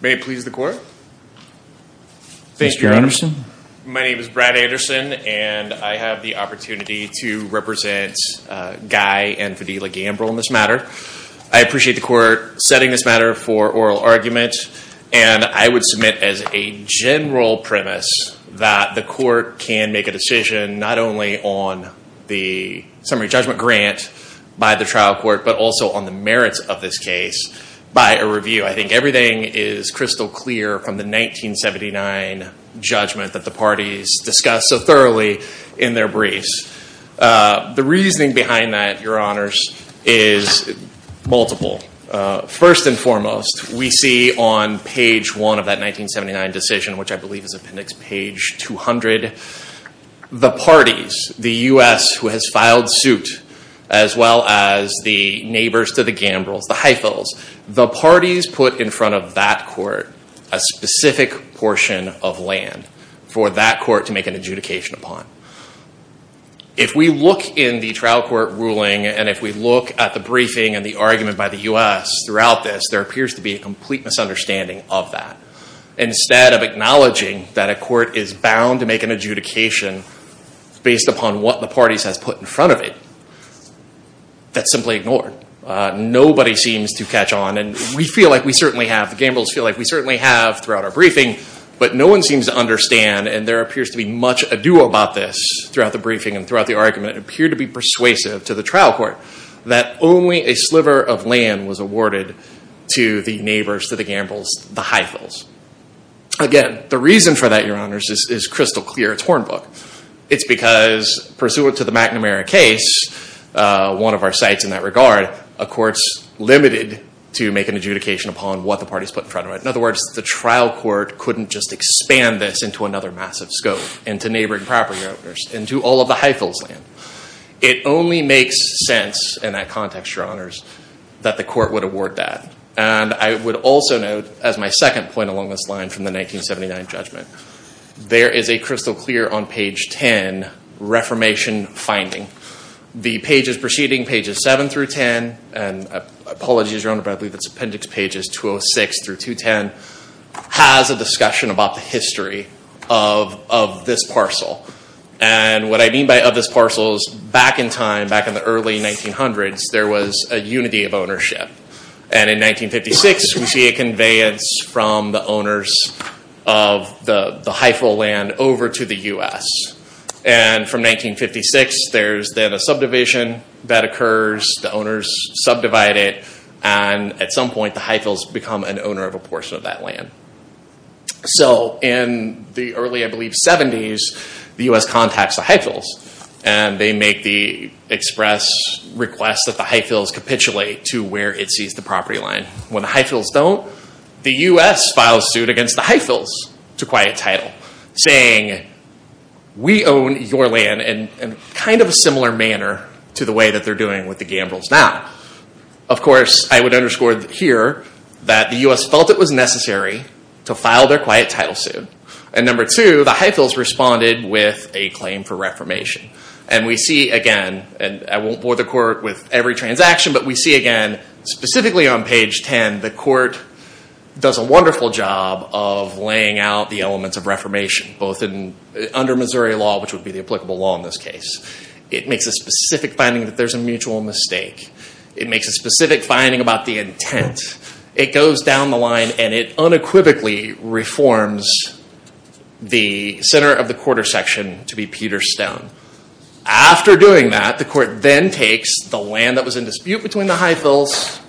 May it please the Court. Mr. Anderson. My name is Brad Anderson, and I have the opportunity to represent Guy and Fadila Gambrell in this matter. I appreciate the Court setting this matter for oral argument, and I would submit as a decision not only on the summary judgment grant by the trial court, but also on the merits of this case by a review. I think everything is crystal clear from the 1979 judgment that the parties discussed so thoroughly in their briefs. The reasoning behind that, Your Honors, is multiple. First and foremost, we see on page one of that 1979 decision, which I believe is appendix page 200, the parties, the U.S. who has filed suit, as well as the neighbors to the Gambrells, the Heifels, the parties put in front of that court a specific portion of land for that court to make an adjudication upon. If we look in the trial court ruling, and if we look at the briefing and the argument by the U.S. throughout this, there appears to be a complete misunderstanding of that. Instead of acknowledging that a court is bound to make an adjudication based upon what the parties has put in front of it, that's simply ignored. Nobody seems to catch on, and we feel like we certainly have, the Gambrells feel like we certainly have throughout our briefing, but no one seems to understand, and there appears to be much ado about this throughout the briefing and throughout the argument, and appear to be persuasive to the trial court that only a sliver of land was awarded to the neighbors to the Gambrells, the Heifels. Again, the reason for that, your honors, is crystal clear. It's hornbook. It's because, pursuant to the McNamara case, one of our sites in that regard, a court's limited to make an adjudication upon what the parties put in front of it. In other words, the trial court couldn't just expand this into another massive scope, into neighboring property owners, into all of the Heifels land. It only makes sense in that context, your honors, that the court would award that. I would also note, as my second point along this line from the 1979 judgment, there is a crystal clear on page 10, reformation finding. The pages preceding, pages 7 through 10, and apologies, your honor, but I believe it's appendix pages 206 through 210, has a discussion about the history of this parcel. What I mean by of this parcel is back in time, back in the early 1900s, there was a unity of ownership. In 1956, we see a conveyance from the owners of the Heifel land over to the U.S. From 1956, there's then a subdivision that occurs, the owners subdivide it, and at some point the Heifels become an owner of a portion of that land. In the early, I believe, 70s, the U.S. contacts the Heifels, and they make the express request that the Heifels capitulate to where it sees the property line. When the Heifels don't, the U.S. files suit against the Heifels to quiet title, saying, we own your land in kind of a similar manner to the way that they're doing with the Gambrels now. Of course, I would underscore here that the U.S. felt it was necessary to file their quiet title suit, and number two, the Heifels responded with a claim for reformation. We see again, and I won't bore the court with every transaction, but we see again, specifically on page 10, the court does a wonderful job of laying out the elements of reformation, both under Missouri law, which would be the applicable law in this case. It makes a specific finding that there's a mutual mistake. It makes a specific finding about the intent. It goes down the line, and it unequivocally reforms the center of the quarter section to be Peterstone. After doing that, the court then takes the land that was in dispute between the Heifels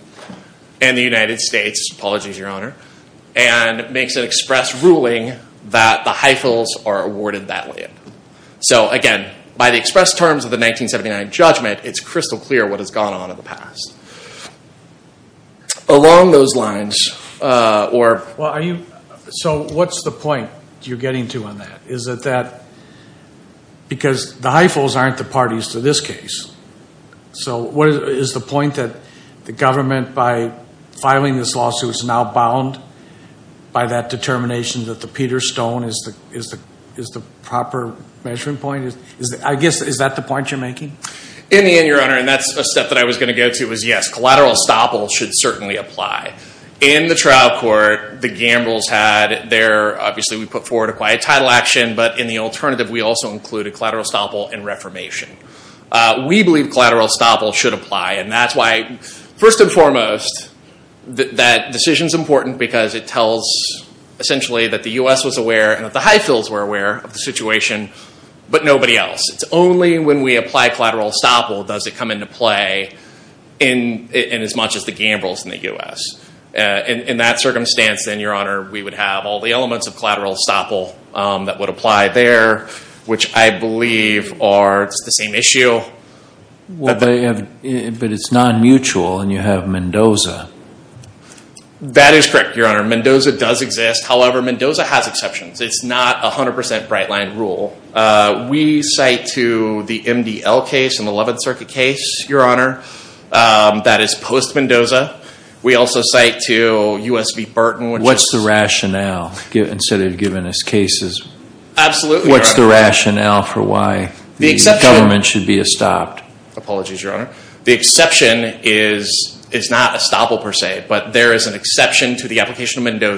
and the United States, apologies, your honor, and makes an express ruling that the Heifels are awarded that land. So again, by the express terms of the 1979 judgment, it's crystal clear what has gone on in the past. So what's the point you're getting to on that, because the Heifels aren't the parties to this case. So is the point that the government, by filing this lawsuit, is now bound by that determination that the Peterstone is the proper measuring point? In the end, your honor, and that's a step that I was going to go to, is yes, collateral estoppel should certainly apply. In the trial court, the gambles had their, obviously we put forward a quiet title action, but in the alternative, we also included collateral estoppel and reformation. We believe collateral estoppel should apply, and that's why, first and foremost, that decision is important because it tells, essentially, that the US was aware and that the Heifels were aware of the situation, but nobody else. It's only when we apply collateral estoppel does it come into play in as much as the gambles in the US. In that circumstance, then, your honor, we would have all the elements of collateral estoppel that would apply there, which I believe are the same issue. But it's non-mutual, and you have Mendoza. That is correct, your honor. Mendoza does exist. However, Mendoza has exceptions. It's not a 100% bright line rule. We cite to the MDL case and the Eleventh Circuit case, your honor, that is post-Mendoza. We also cite to U.S. v. Burton. What's the rationale? Instead of giving us cases, what's the rationale for why the government should be estopped? Apologies, your honor. The exception is not estoppel, per se, but there is an exception to the application of a matter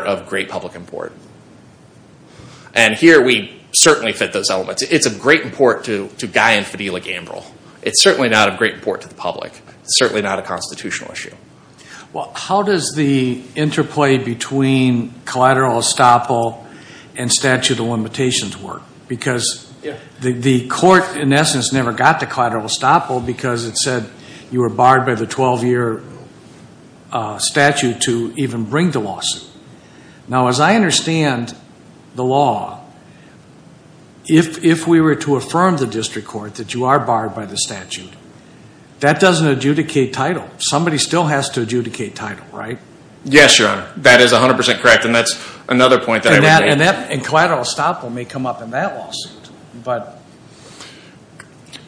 of great public import. And here, we certainly fit those elements. It's of great import to Guy and Fadila Gambrill. It's certainly not of great import to the public. It's certainly not a constitutional issue. Well, how does the interplay between collateral estoppel and statute of limitations work? Because the court, in essence, never got to collateral estoppel because it said you were Now, as I understand the law, if we were to affirm the district court that you are barred by the statute, that doesn't adjudicate title. Somebody still has to adjudicate title, right? Yes, your honor. That is 100% correct, and that's another point that I would make. And collateral estoppel may come up in that lawsuit.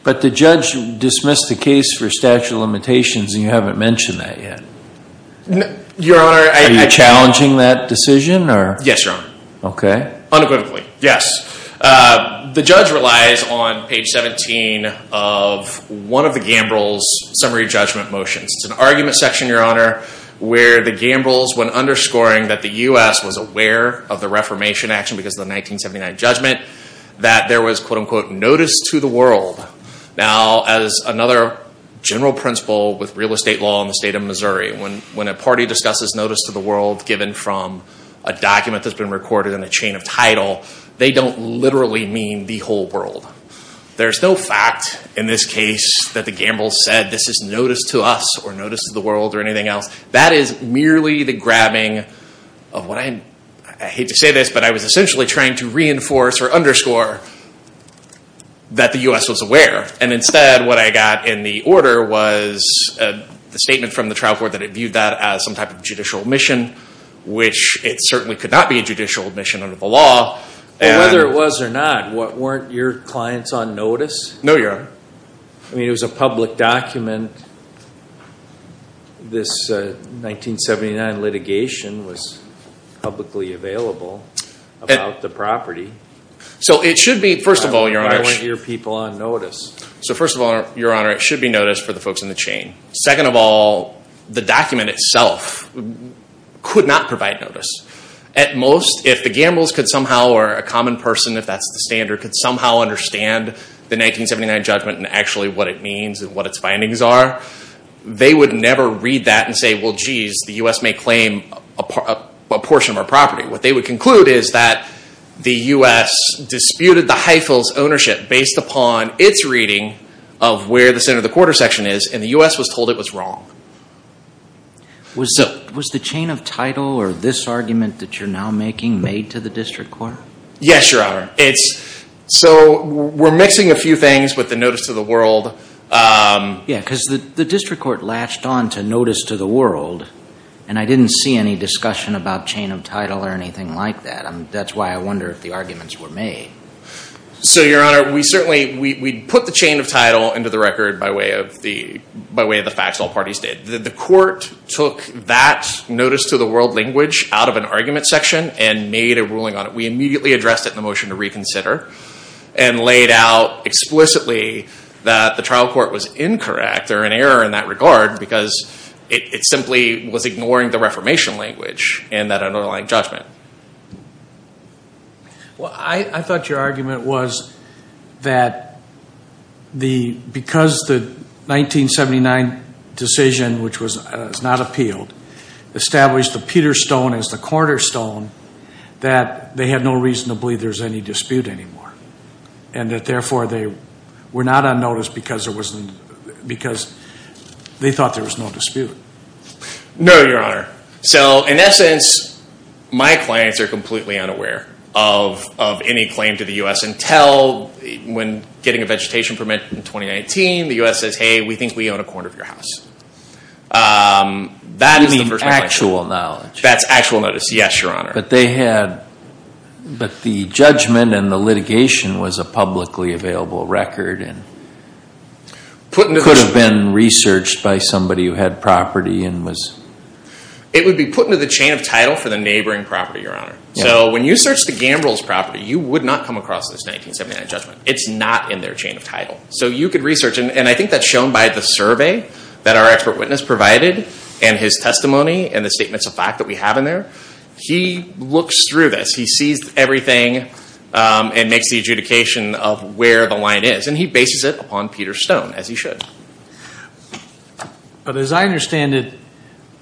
But the judge dismissed the case for statute of limitations, and you haven't mentioned that yet. Your honor, I- Are you challenging that decision, or- Yes, your honor. Okay. Unequivocally, yes. The judge relies on page 17 of one of the Gambrill's summary judgment motions. It's an argument section, your honor, where the Gambrills, when underscoring that the US was aware of the Reformation action because of the 1979 judgment, that there was, quote unquote, notice to the world. Now, as another general principle with real estate law in the state of Missouri, when a party discusses notice to the world given from a document that's been recorded in a chain of title, they don't literally mean the whole world. There's no fact in this case that the Gambrills said, this is notice to us, or notice to the world, or anything else. That is merely the grabbing of what I, I hate to say this, but I was essentially trying to reinforce or underscore that the US was aware. And instead, what I got in the order was a statement from the trial court that it viewed that as some type of judicial admission, which it certainly could not be a judicial admission under the law. And- Whether it was or not, weren't your clients on notice? No, your honor. I mean, it was a public document. This 1979 litigation was publicly available about the property. So it should be, first of all, your honor- Or weren't your people on notice? So first of all, your honor, it should be notice for the folks in the chain. Second of all, the document itself could not provide notice. At most, if the Gambrills could somehow, or a common person, if that's the standard, could somehow understand the 1979 judgment and actually what it means and what its findings are, they would never read that and say, well, geez, the US may claim a portion of our property. What they would conclude is that the US disputed the high fills ownership based upon its reading of where the center of the quarter section is, and the US was told it was wrong. Was the chain of title, or this argument that you're now making, made to the district court? Yes, your honor. It's, so we're mixing a few things with the notice to the world. Yeah, because the district court latched on to notice to the world, and I didn't see any discussion about chain of title or anything like that. That's why I wonder if the arguments were made. So your honor, we certainly, we put the chain of title into the record by way of the facts all parties did. The court took that notice to the world language out of an argument section and made a ruling on it. We immediately addressed it in the motion to reconsider and laid out explicitly that the trial court was incorrect or in error in that regard, because it simply was ignoring the Reformation language in that underlying judgment. Well, I thought your argument was that because the 1979 decision, which was not appealed, established the Peterstone as the cornerstone that they had no reason to believe there's any dispute anymore. And that therefore they were not on notice because they thought there was no dispute. No, your honor. So in essence, my clients are completely unaware of any claim to the U.S. until when getting a vegetation permit in 2019, the U.S. says, hey, we think we own a corner of your house. That is the first thing I say. You mean actual knowledge. That's actual notice, yes, your honor. But they had, but the judgment and the litigation was a publicly available record and could have been researched by somebody who had property and was. It would be put into the chain of title for the neighboring property, your honor. So when you search the Gambrels' property, you would not come across this 1979 judgment. It's not in their chain of title. So you could research, and I think that's shown by the survey that our expert witness provided and his testimony and the statements of fact that we have in there, he looks through this. He sees everything and makes the adjudication of where the line is. And he bases it upon Peter Stone, as he should. But as I understand it,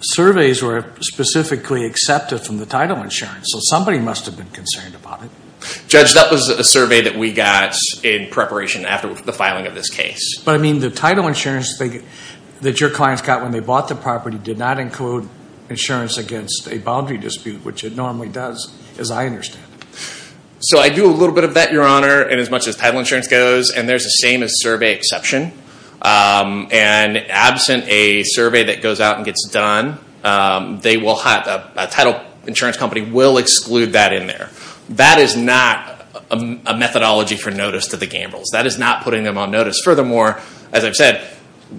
surveys were specifically accepted from the title insurance. So somebody must have been concerned about it. Judge, that was a survey that we got in preparation after the filing of this case. But I mean, the title insurance that your clients got when they bought the property did not include insurance against a boundary dispute, which it normally does, as I understand it. So I do a little bit of that, your honor, in as much as title insurance goes. And there's the same as survey exception. And absent a survey that goes out and gets done, a title insurance company will exclude that in there. That is not a methodology for notice to the Gambrels. That is not putting them on notice. Furthermore, as I've said,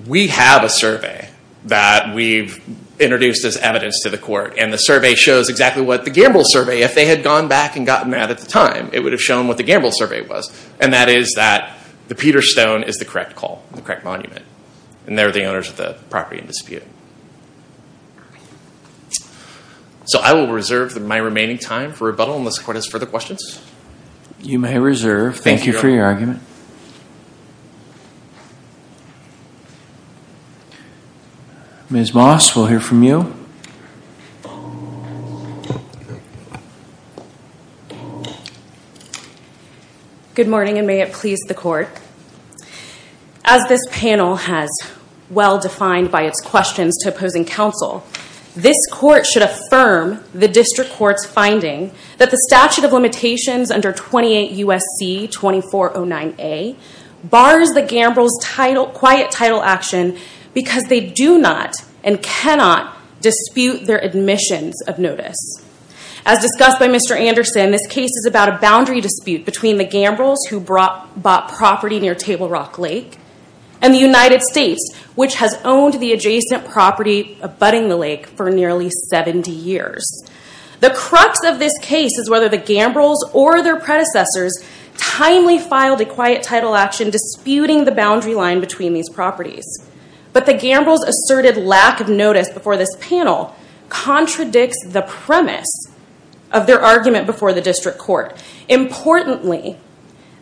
we have a survey that we've introduced as evidence to the court. And the survey shows exactly what the Gambrels survey, if they had gone back and gotten that at the time, it would have shown what the Gambrels survey was. And that is that the Peter Stone is the correct call, the correct monument. And they're the owners of the property in dispute. So I will reserve my remaining time for rebuttal unless the court has further questions. You may reserve. Thank you for your argument. Ms. Moss, we'll hear from you. Good morning, and may it please the court. As this panel has well defined by its questions to opposing counsel, this court should affirm the district court's finding that the statute of limitations under 28 U.S.C. 2409A bars the Gambrels' quiet title action because they do not and cannot dispute their admissions of notice. As discussed by Mr. Anderson, this case is about a boundary dispute between the Gambrels, who bought property near Table Rock Lake, and the United States, which has owned the adjacent property abutting the lake for nearly 70 years. The crux of this case is whether the Gambrels or their predecessors timely filed a quiet title action disputing the boundary line between these properties. But the Gambrels' asserted lack of notice before this panel contradicts the premise of their argument before the district court. Importantly,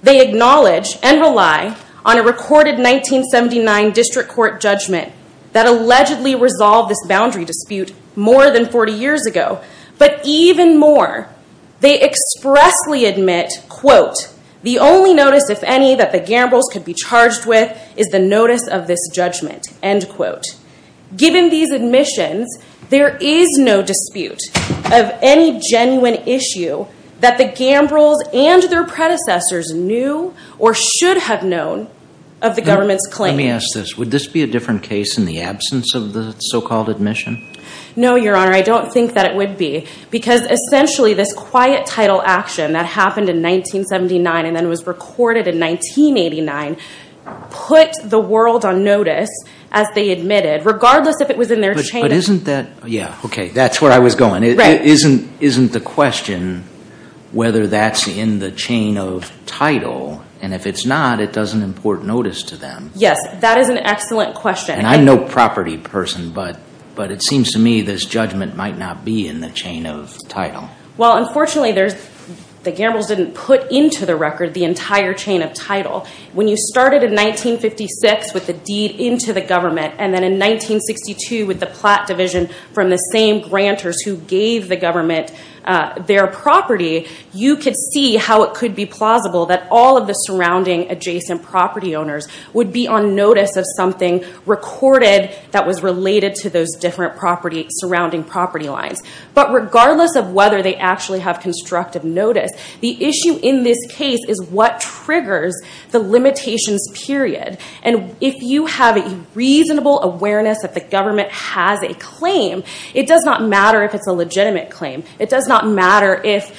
they acknowledge and rely on a recorded 1979 district court judgment that allegedly resolved this boundary dispute more than 40 years ago. But even more, they expressly admit, quote, the only notice, if any, that the Gambrels could be charged with is the notice of this judgment, end quote. Given these admissions, there is no dispute of any genuine issue that the Gambrels and their predecessors knew or should have known of the government's claim. Let me ask this. Would this be a different case in the absence of the so-called admission? No, Your Honor. I don't think that it would be because essentially this quiet title action that happened in 1979 and then was recorded in 1989 put the world on notice as they admitted, regardless if it was in their chain of- But isn't that, yeah, okay. That's where I was going. Right. Isn't the question whether that's in the chain of title? And if it's not, it doesn't import notice to them. Yes, that is an excellent question. And I'm no property person, but it seems to me this judgment might not be in the chain of title. Well, unfortunately, the Gambrels didn't put into the record the entire chain of title. When you started in 1956 with the deed into the government and then in 1962 with the Platt division from the same grantors who gave the government their property, you could see how it could be plausible that all of the surrounding adjacent property owners would be on notice of something recorded that was related to those different surrounding property lines. But regardless of whether they actually have constructive notice, the issue in this case is what triggers the limitations period. And if you have a reasonable awareness that the government has a claim, it does not matter if it's a legitimate claim. It does not matter if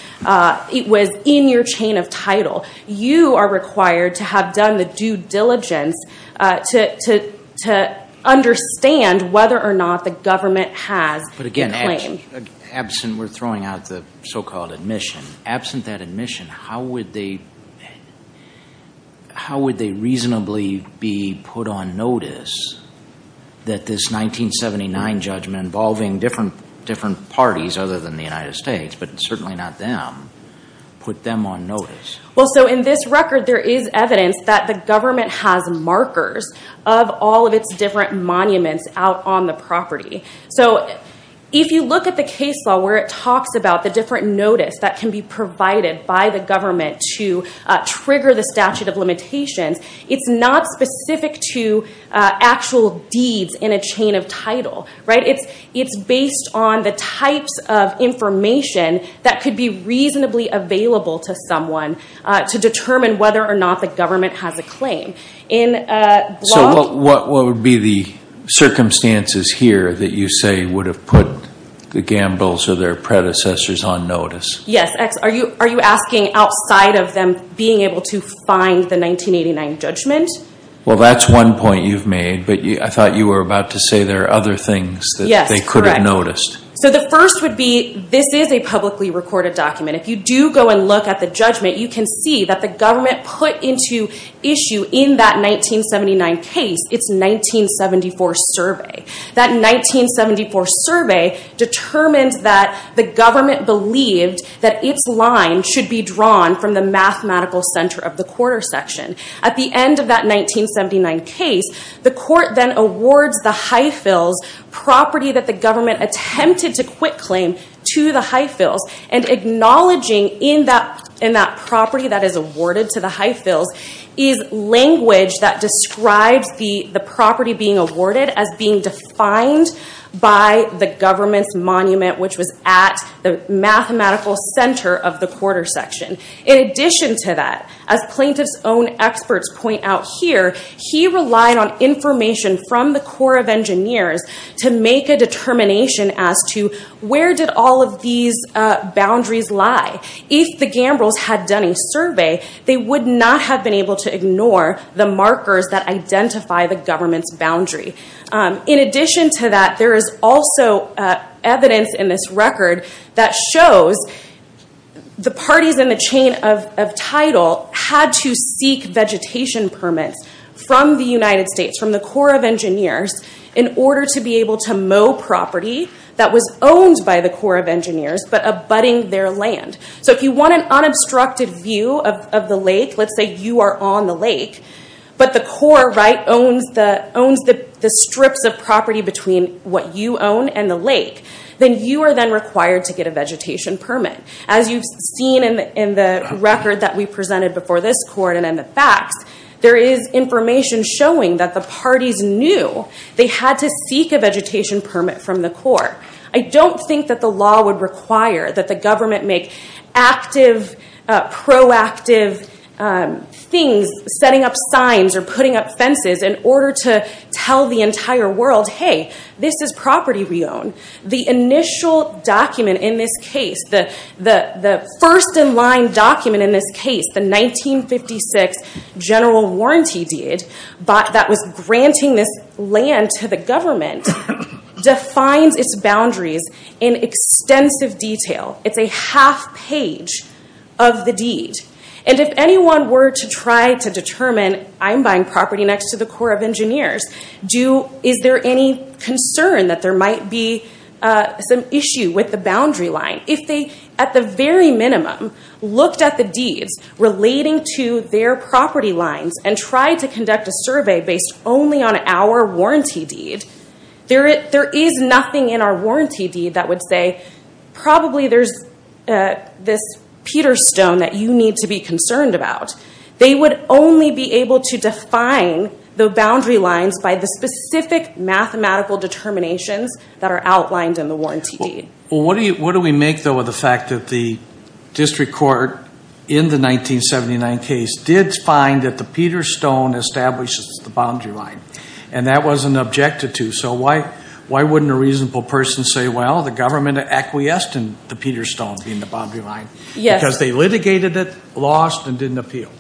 it was in your chain of title. You are required to have done the due diligence to understand whether or not the government has a claim. But again, we're throwing out the so-called admission. Absent that admission, how would they reasonably be put on notice that this 1979 judgment involving different parties other than the United States, but certainly not them, put them on notice? Well, so in this record, there is evidence that the government has markers of all of its different monuments out on the property. So if you look at the case law where it talks about the different notice that can be provided by the government to trigger the statute of limitations, it's not specific to actual deeds in a chain of title. It's based on the types of information that could be reasonably available to someone to determine whether or not the government has a claim. So what would be the circumstances here that you say would have put the Gambles or their predecessors on notice? Yes. Are you asking outside of them being able to find the 1989 judgment? Well, that's one point you've made, but I thought you were about to say there are other things that they could have noticed. So the first would be, this is a publicly recorded document. If you do go and look at the judgment, you can see that the government put into issue in that 1979 case its 1974 survey. That 1974 survey determined that the government believed that its line should be drawn from the mathematical center of the quarter section. At the end of that 1979 case, the court then awards the Highfields property that the government attempted to quit claim to the Highfields, and acknowledging in that property that is awarded to the Highfields is language that describes the property being awarded as being defined by the government's monument, which was at the mathematical center of the quarter section. In addition to that, as plaintiff's own experts point out here, he relied on information from the Corps of Engineers to make a determination as to where did all of these boundaries lie. If the Gambrels had done a survey, they would not have been able to ignore the markers that identify the government's boundary. In addition to that, there is also evidence in this record that shows the parties in the chain of title had to seek vegetation permits from the United States, from the Corps of Engineers, in order to be able to mow property that was owned by the Corps of Engineers, but abutting their land. If you want an unobstructed view of the lake, let's say you are on the lake, but the Corps owns the strips of property between what you own and the lake, then you are then required to get a vegetation permit. As you've seen in the record that we presented before this court and in the facts, there is information showing that the parties knew they had to seek a vegetation permit from the Corps. I don't think that the law would require that the government make active, proactive things, setting up signs or putting up fences in order to tell the entire world, hey, this is property we own. The initial document in this case, the first in line document in this case, the 1956 general warranty deed that was granting this land to the government, defines its boundaries in extensive detail. It's a half page of the deed. If anyone were to try to determine, I'm buying property next to the Corps of Engineers, is there any concern that there might be some issue with the boundary line? If they, at the very minimum, looked at the deeds relating to their property lines and tried to conduct a survey based only on our warranty deed, there is nothing in our warranty deed that would say, probably there's this Peterstone that you need to be concerned about. They would only be able to define the boundary lines by the specific mathematical determinations that are outlined in the warranty deed. What do we make, though, of the fact that the district court in the 1979 case did find that the Peterstone establishes the boundary line? And that wasn't objected to, so why wouldn't a reasonable person say, well, the government acquiesced in the Peterstone being the boundary line? Because they litigated it, lost, and didn't appeal.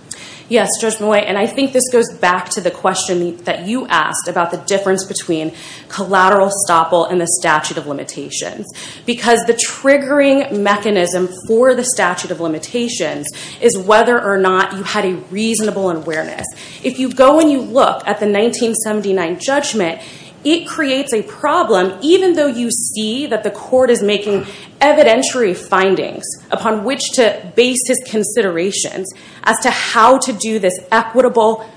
Yes, Judge Moy, and I think this goes back to the question that you asked about the difference between collateral estoppel and the statute of limitations. Because the triggering mechanism for the statute of limitations is whether or not you had a reasonable awareness. If you go and you look at the 1979 judgment, it creates a problem, even though you see that the court is making evidentiary findings upon which to base his considerations as to how to do this equitable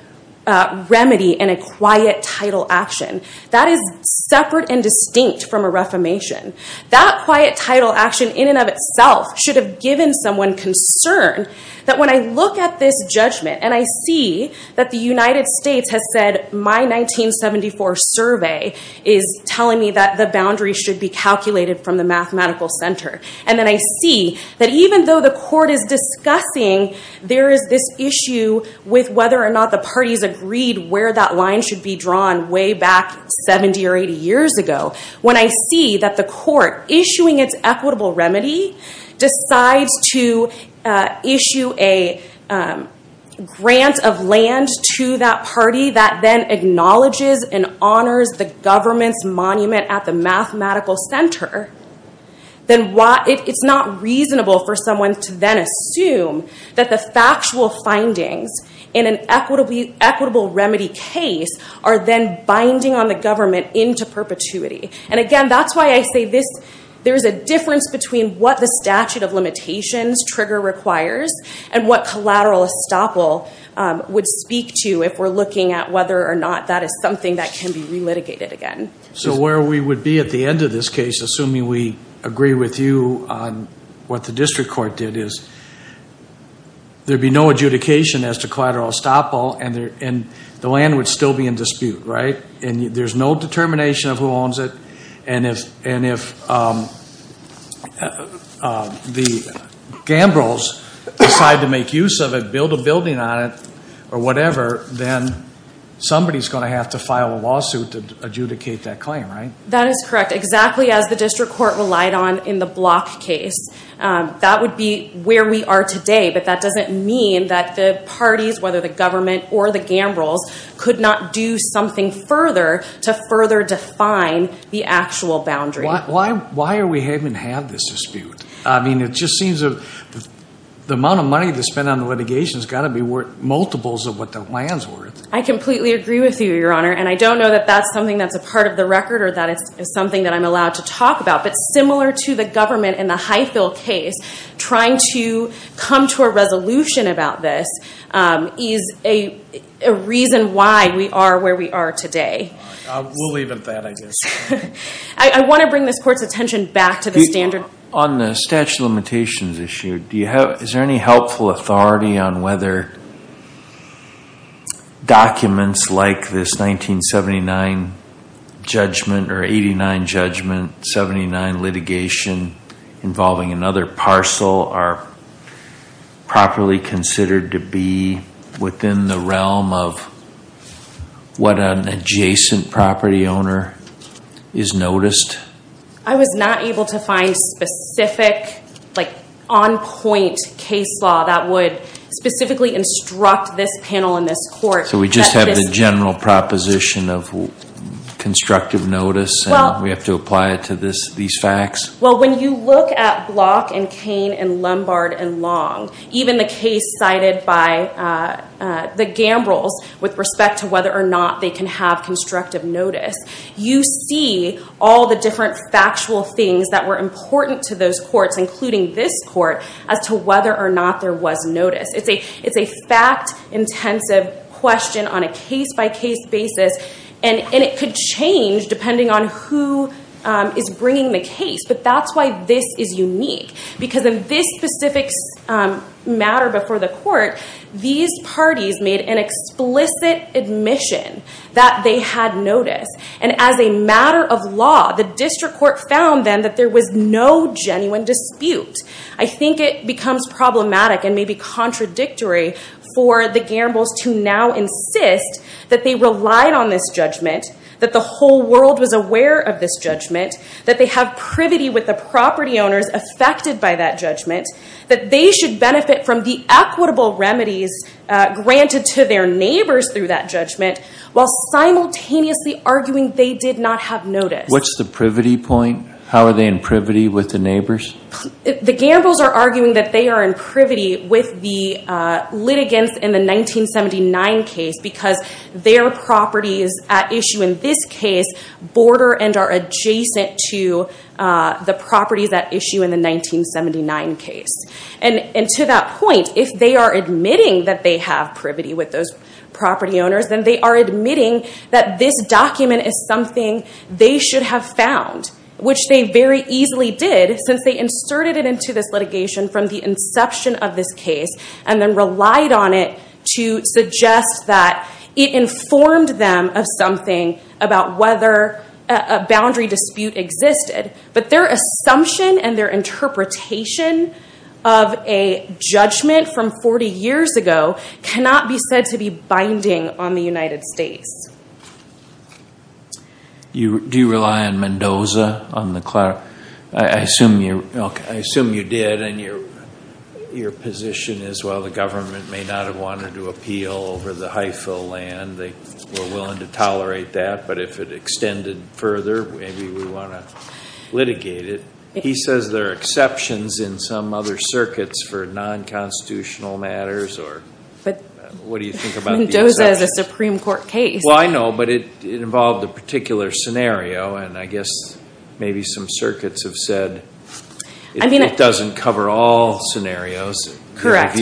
remedy in a quiet title action. That is separate and distinct from a reformation. That quiet title action, in and of itself, should have given someone concern. That when I look at this judgment and I see that the United States has said, my 1974 survey is telling me that the boundary should be calculated from the mathematical center. And then I see that even though the court is discussing, there is this issue with whether or not the parties agreed where that line should be drawn way back 70 or 80 years ago. When I see that the court, issuing its equitable remedy, decides to issue a grant of land to that party that then acknowledges and honors the government's monument at the mathematical center, then it's not reasonable for someone to then assume that the factual findings in an equitable remedy case are then binding on the government into perpetuity. And again, that's why I say there's a difference between what the statute of limitations trigger requires and what collateral estoppel would speak to if we're looking at whether or not that is something that can be re-litigated again. So where we would be at the end of this case, assuming we agree with you on what the district court did, is there'd be no adjudication as to collateral estoppel and the land would still be in dispute, right? And there's no determination of who owns it. And if the gamblers decide to make use of it, build a building on it, or whatever, then somebody's going to have to file a lawsuit to adjudicate that claim, right? That is correct. Exactly as the district court relied on in the Block case. That would be where we are today. But that doesn't mean that the parties, whether the government or the gamblers, could not do something further to further define the actual boundary. Why are we having to have this dispute? I mean, it just seems the amount of money to spend on the litigation has got to be multiples of what the land's worth. I completely agree with you, Your Honor. And I don't know that that's something that's a part of the record or that it's something that I'm allowed to talk about. But similar to the government in the Highfield case, trying to come to a resolution about this is a reason why we are where we are today. We'll leave it at that, I guess. I want to bring this court's attention back to the standard. On the statute of limitations issue, is there any helpful authority on whether documents like this 1979 judgment or 89 judgment, 79 litigation involving another parcel are properly considered to be within the realm of what an adjacent property owner has noticed? I was not able to find specific on-point case law that would specifically instruct this panel in this court. So we just have the general proposition of constructive notice and we have to apply it to these facts? Well, when you look at Block and Cain and Lombard and Long, even the case cited by the Gambrills with respect to whether or not they can have constructive notice, you see all the different factual things that were important to those courts, including this court, as to whether or not there was notice. It's a fact-intensive question on a case-by-case basis and it could change depending on who is bringing the case. But that's why this is unique. Because of this specific matter before the court, these parties made an explicit admission that they had notice. And as a matter of law, the district court found then that there was no genuine dispute. I think it becomes problematic and maybe contradictory for the Gambrills to now insist that they relied on this judgment, that the whole world was aware of this judgment, that they have privity with the property owners affected by that judgment, that they should benefit from the equitable remedies granted to their neighbors through that judgment, while simultaneously arguing they did not have notice. What's the privity point? How are they in privity with the neighbors? The Gambrills are arguing that they are in privity with the litigants in the 1979 case because their properties at issue in this case border and are adjacent to the properties at issue in the 1979 case. And to that point, if they are admitting that they have privity with those property owners, then they are admitting that this document is something they should have found, which they very easily did since they inserted it into this litigation from the inception of this case and then relied on it to suggest that it informed them of something about whether a boundary dispute existed. But their assumption and their interpretation of a judgment from 40 years ago cannot be said to be binding on the United States. Do you rely on Mendoza on the... I assume you did, and your position is, well, the government may not have wanted to appeal over the HIFO land. They were willing to tolerate that, but if it extended further, maybe we want to litigate it. He says there are exceptions in some other circuits for non-constitutional matters or... What do you think about the exceptions? Mendoza is a Supreme Court case. Well, I know, but it involved a particular scenario, and I guess maybe some circuits have said it doesn't cover all scenarios. Correct.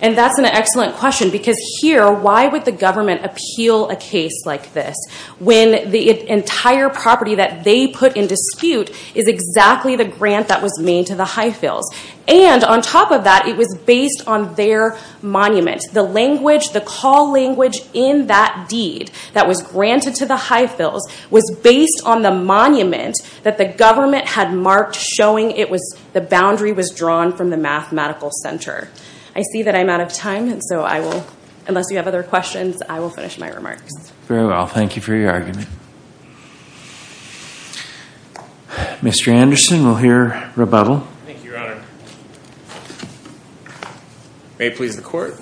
And that's an excellent question, because here, why would the government appeal a case like this when the entire property that they put in dispute is exactly the grant that was made to the HIFILS? And on top of that, it was based on their monument. The language, the call language in that deed that was granted to the HIFILS was based on the monument that the government had marked, showing the boundary was drawn from the mathematical center. I see that I'm out of time, so I will... Unless you have other questions, I will finish my remarks. Very well. Thank you for your argument. Thank you, Your Honor. May it please the Court.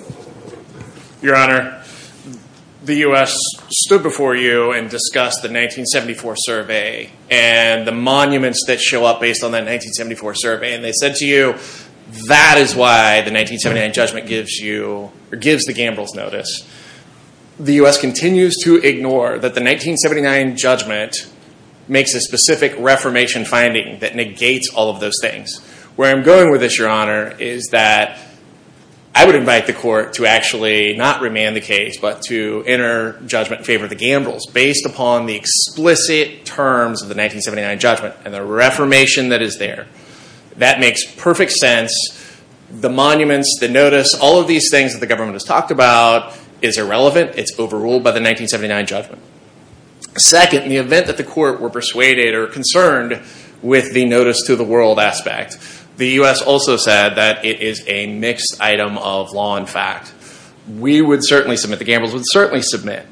Your Honor, the US stood before you and discussed the 1974 survey and the monuments that show up based on that 1974 survey, and they said to you, that is why the 1979 judgment gives you... Or gives the gambler's notice. The US continues to ignore that the 1979 judgment makes a specific reformation finding that negates all of those things. Where I'm going with this, Your Honor, is that I would invite the Court to actually not remand the case, but to enter judgment in favor of the gambler's, based upon the explicit terms of the 1979 judgment and the reformation that is there. That makes perfect sense. The monuments, the notice, all of these things that the government has talked about is irrelevant. It's overruled by the 1979 judgment. Second, in the event that the Court were persuaded or concerned with the notice to the world aspect, the US also said that it is a mixed item of law and fact. We would certainly submit, the gamblers would certainly submit,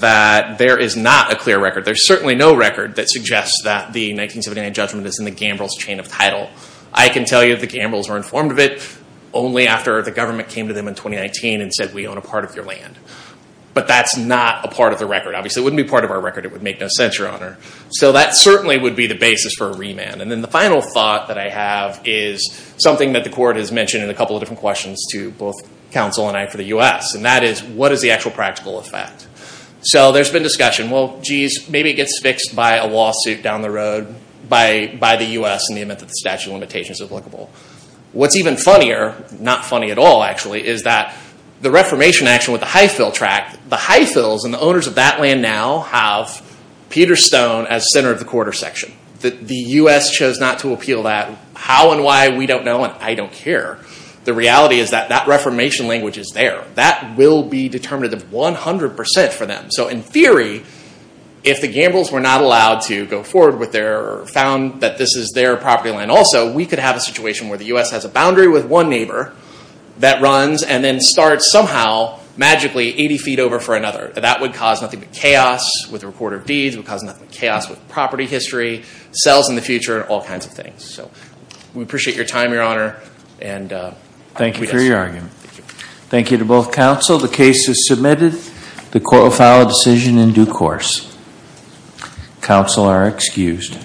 that there is not a clear record. There's certainly no record that suggests that the 1979 judgment is in the gambler's chain of title. I can tell you the gamblers were informed of it only after the government came to them in 2019 and said, we own a part of your land. But that's not a part of the record. Obviously, it wouldn't be part of our record. It would make no sense, Your Honor. That certainly would be the basis for a remand. Then the final thought that I have is something that the Court has mentioned in a couple of different questions to both counsel and I for the US. That is, what is the actual practical effect? There's been discussion, well, geez, maybe it gets fixed by a lawsuit down the road by the US in the event that the statute of limitations is applicable. What's even funnier, not funny at all actually, is that the reformation action with the Highfill tract, the Highfills and the owners of that land now have Peterstone as center of the quarter section. The US chose not to appeal that. How and why, we don't know and I don't care. The reality is that that reformation language is there. That will be determined 100% for them. So in theory, if the gamblers were not allowed to go forward with their, found that this is their property land also, we could have a situation where the US has a boundary with one neighbor that runs and then starts somehow magically 80 feet over for another. That would cause nothing but chaos with the recorder of deeds. It would cause nothing but chaos with property history, sales in the future, all kinds of things. So we appreciate your time, Your Honor. And we did. Thank you for your argument. Thank you to both counsel. The case is submitted. The court will file a decision in due course. Counsel are excused.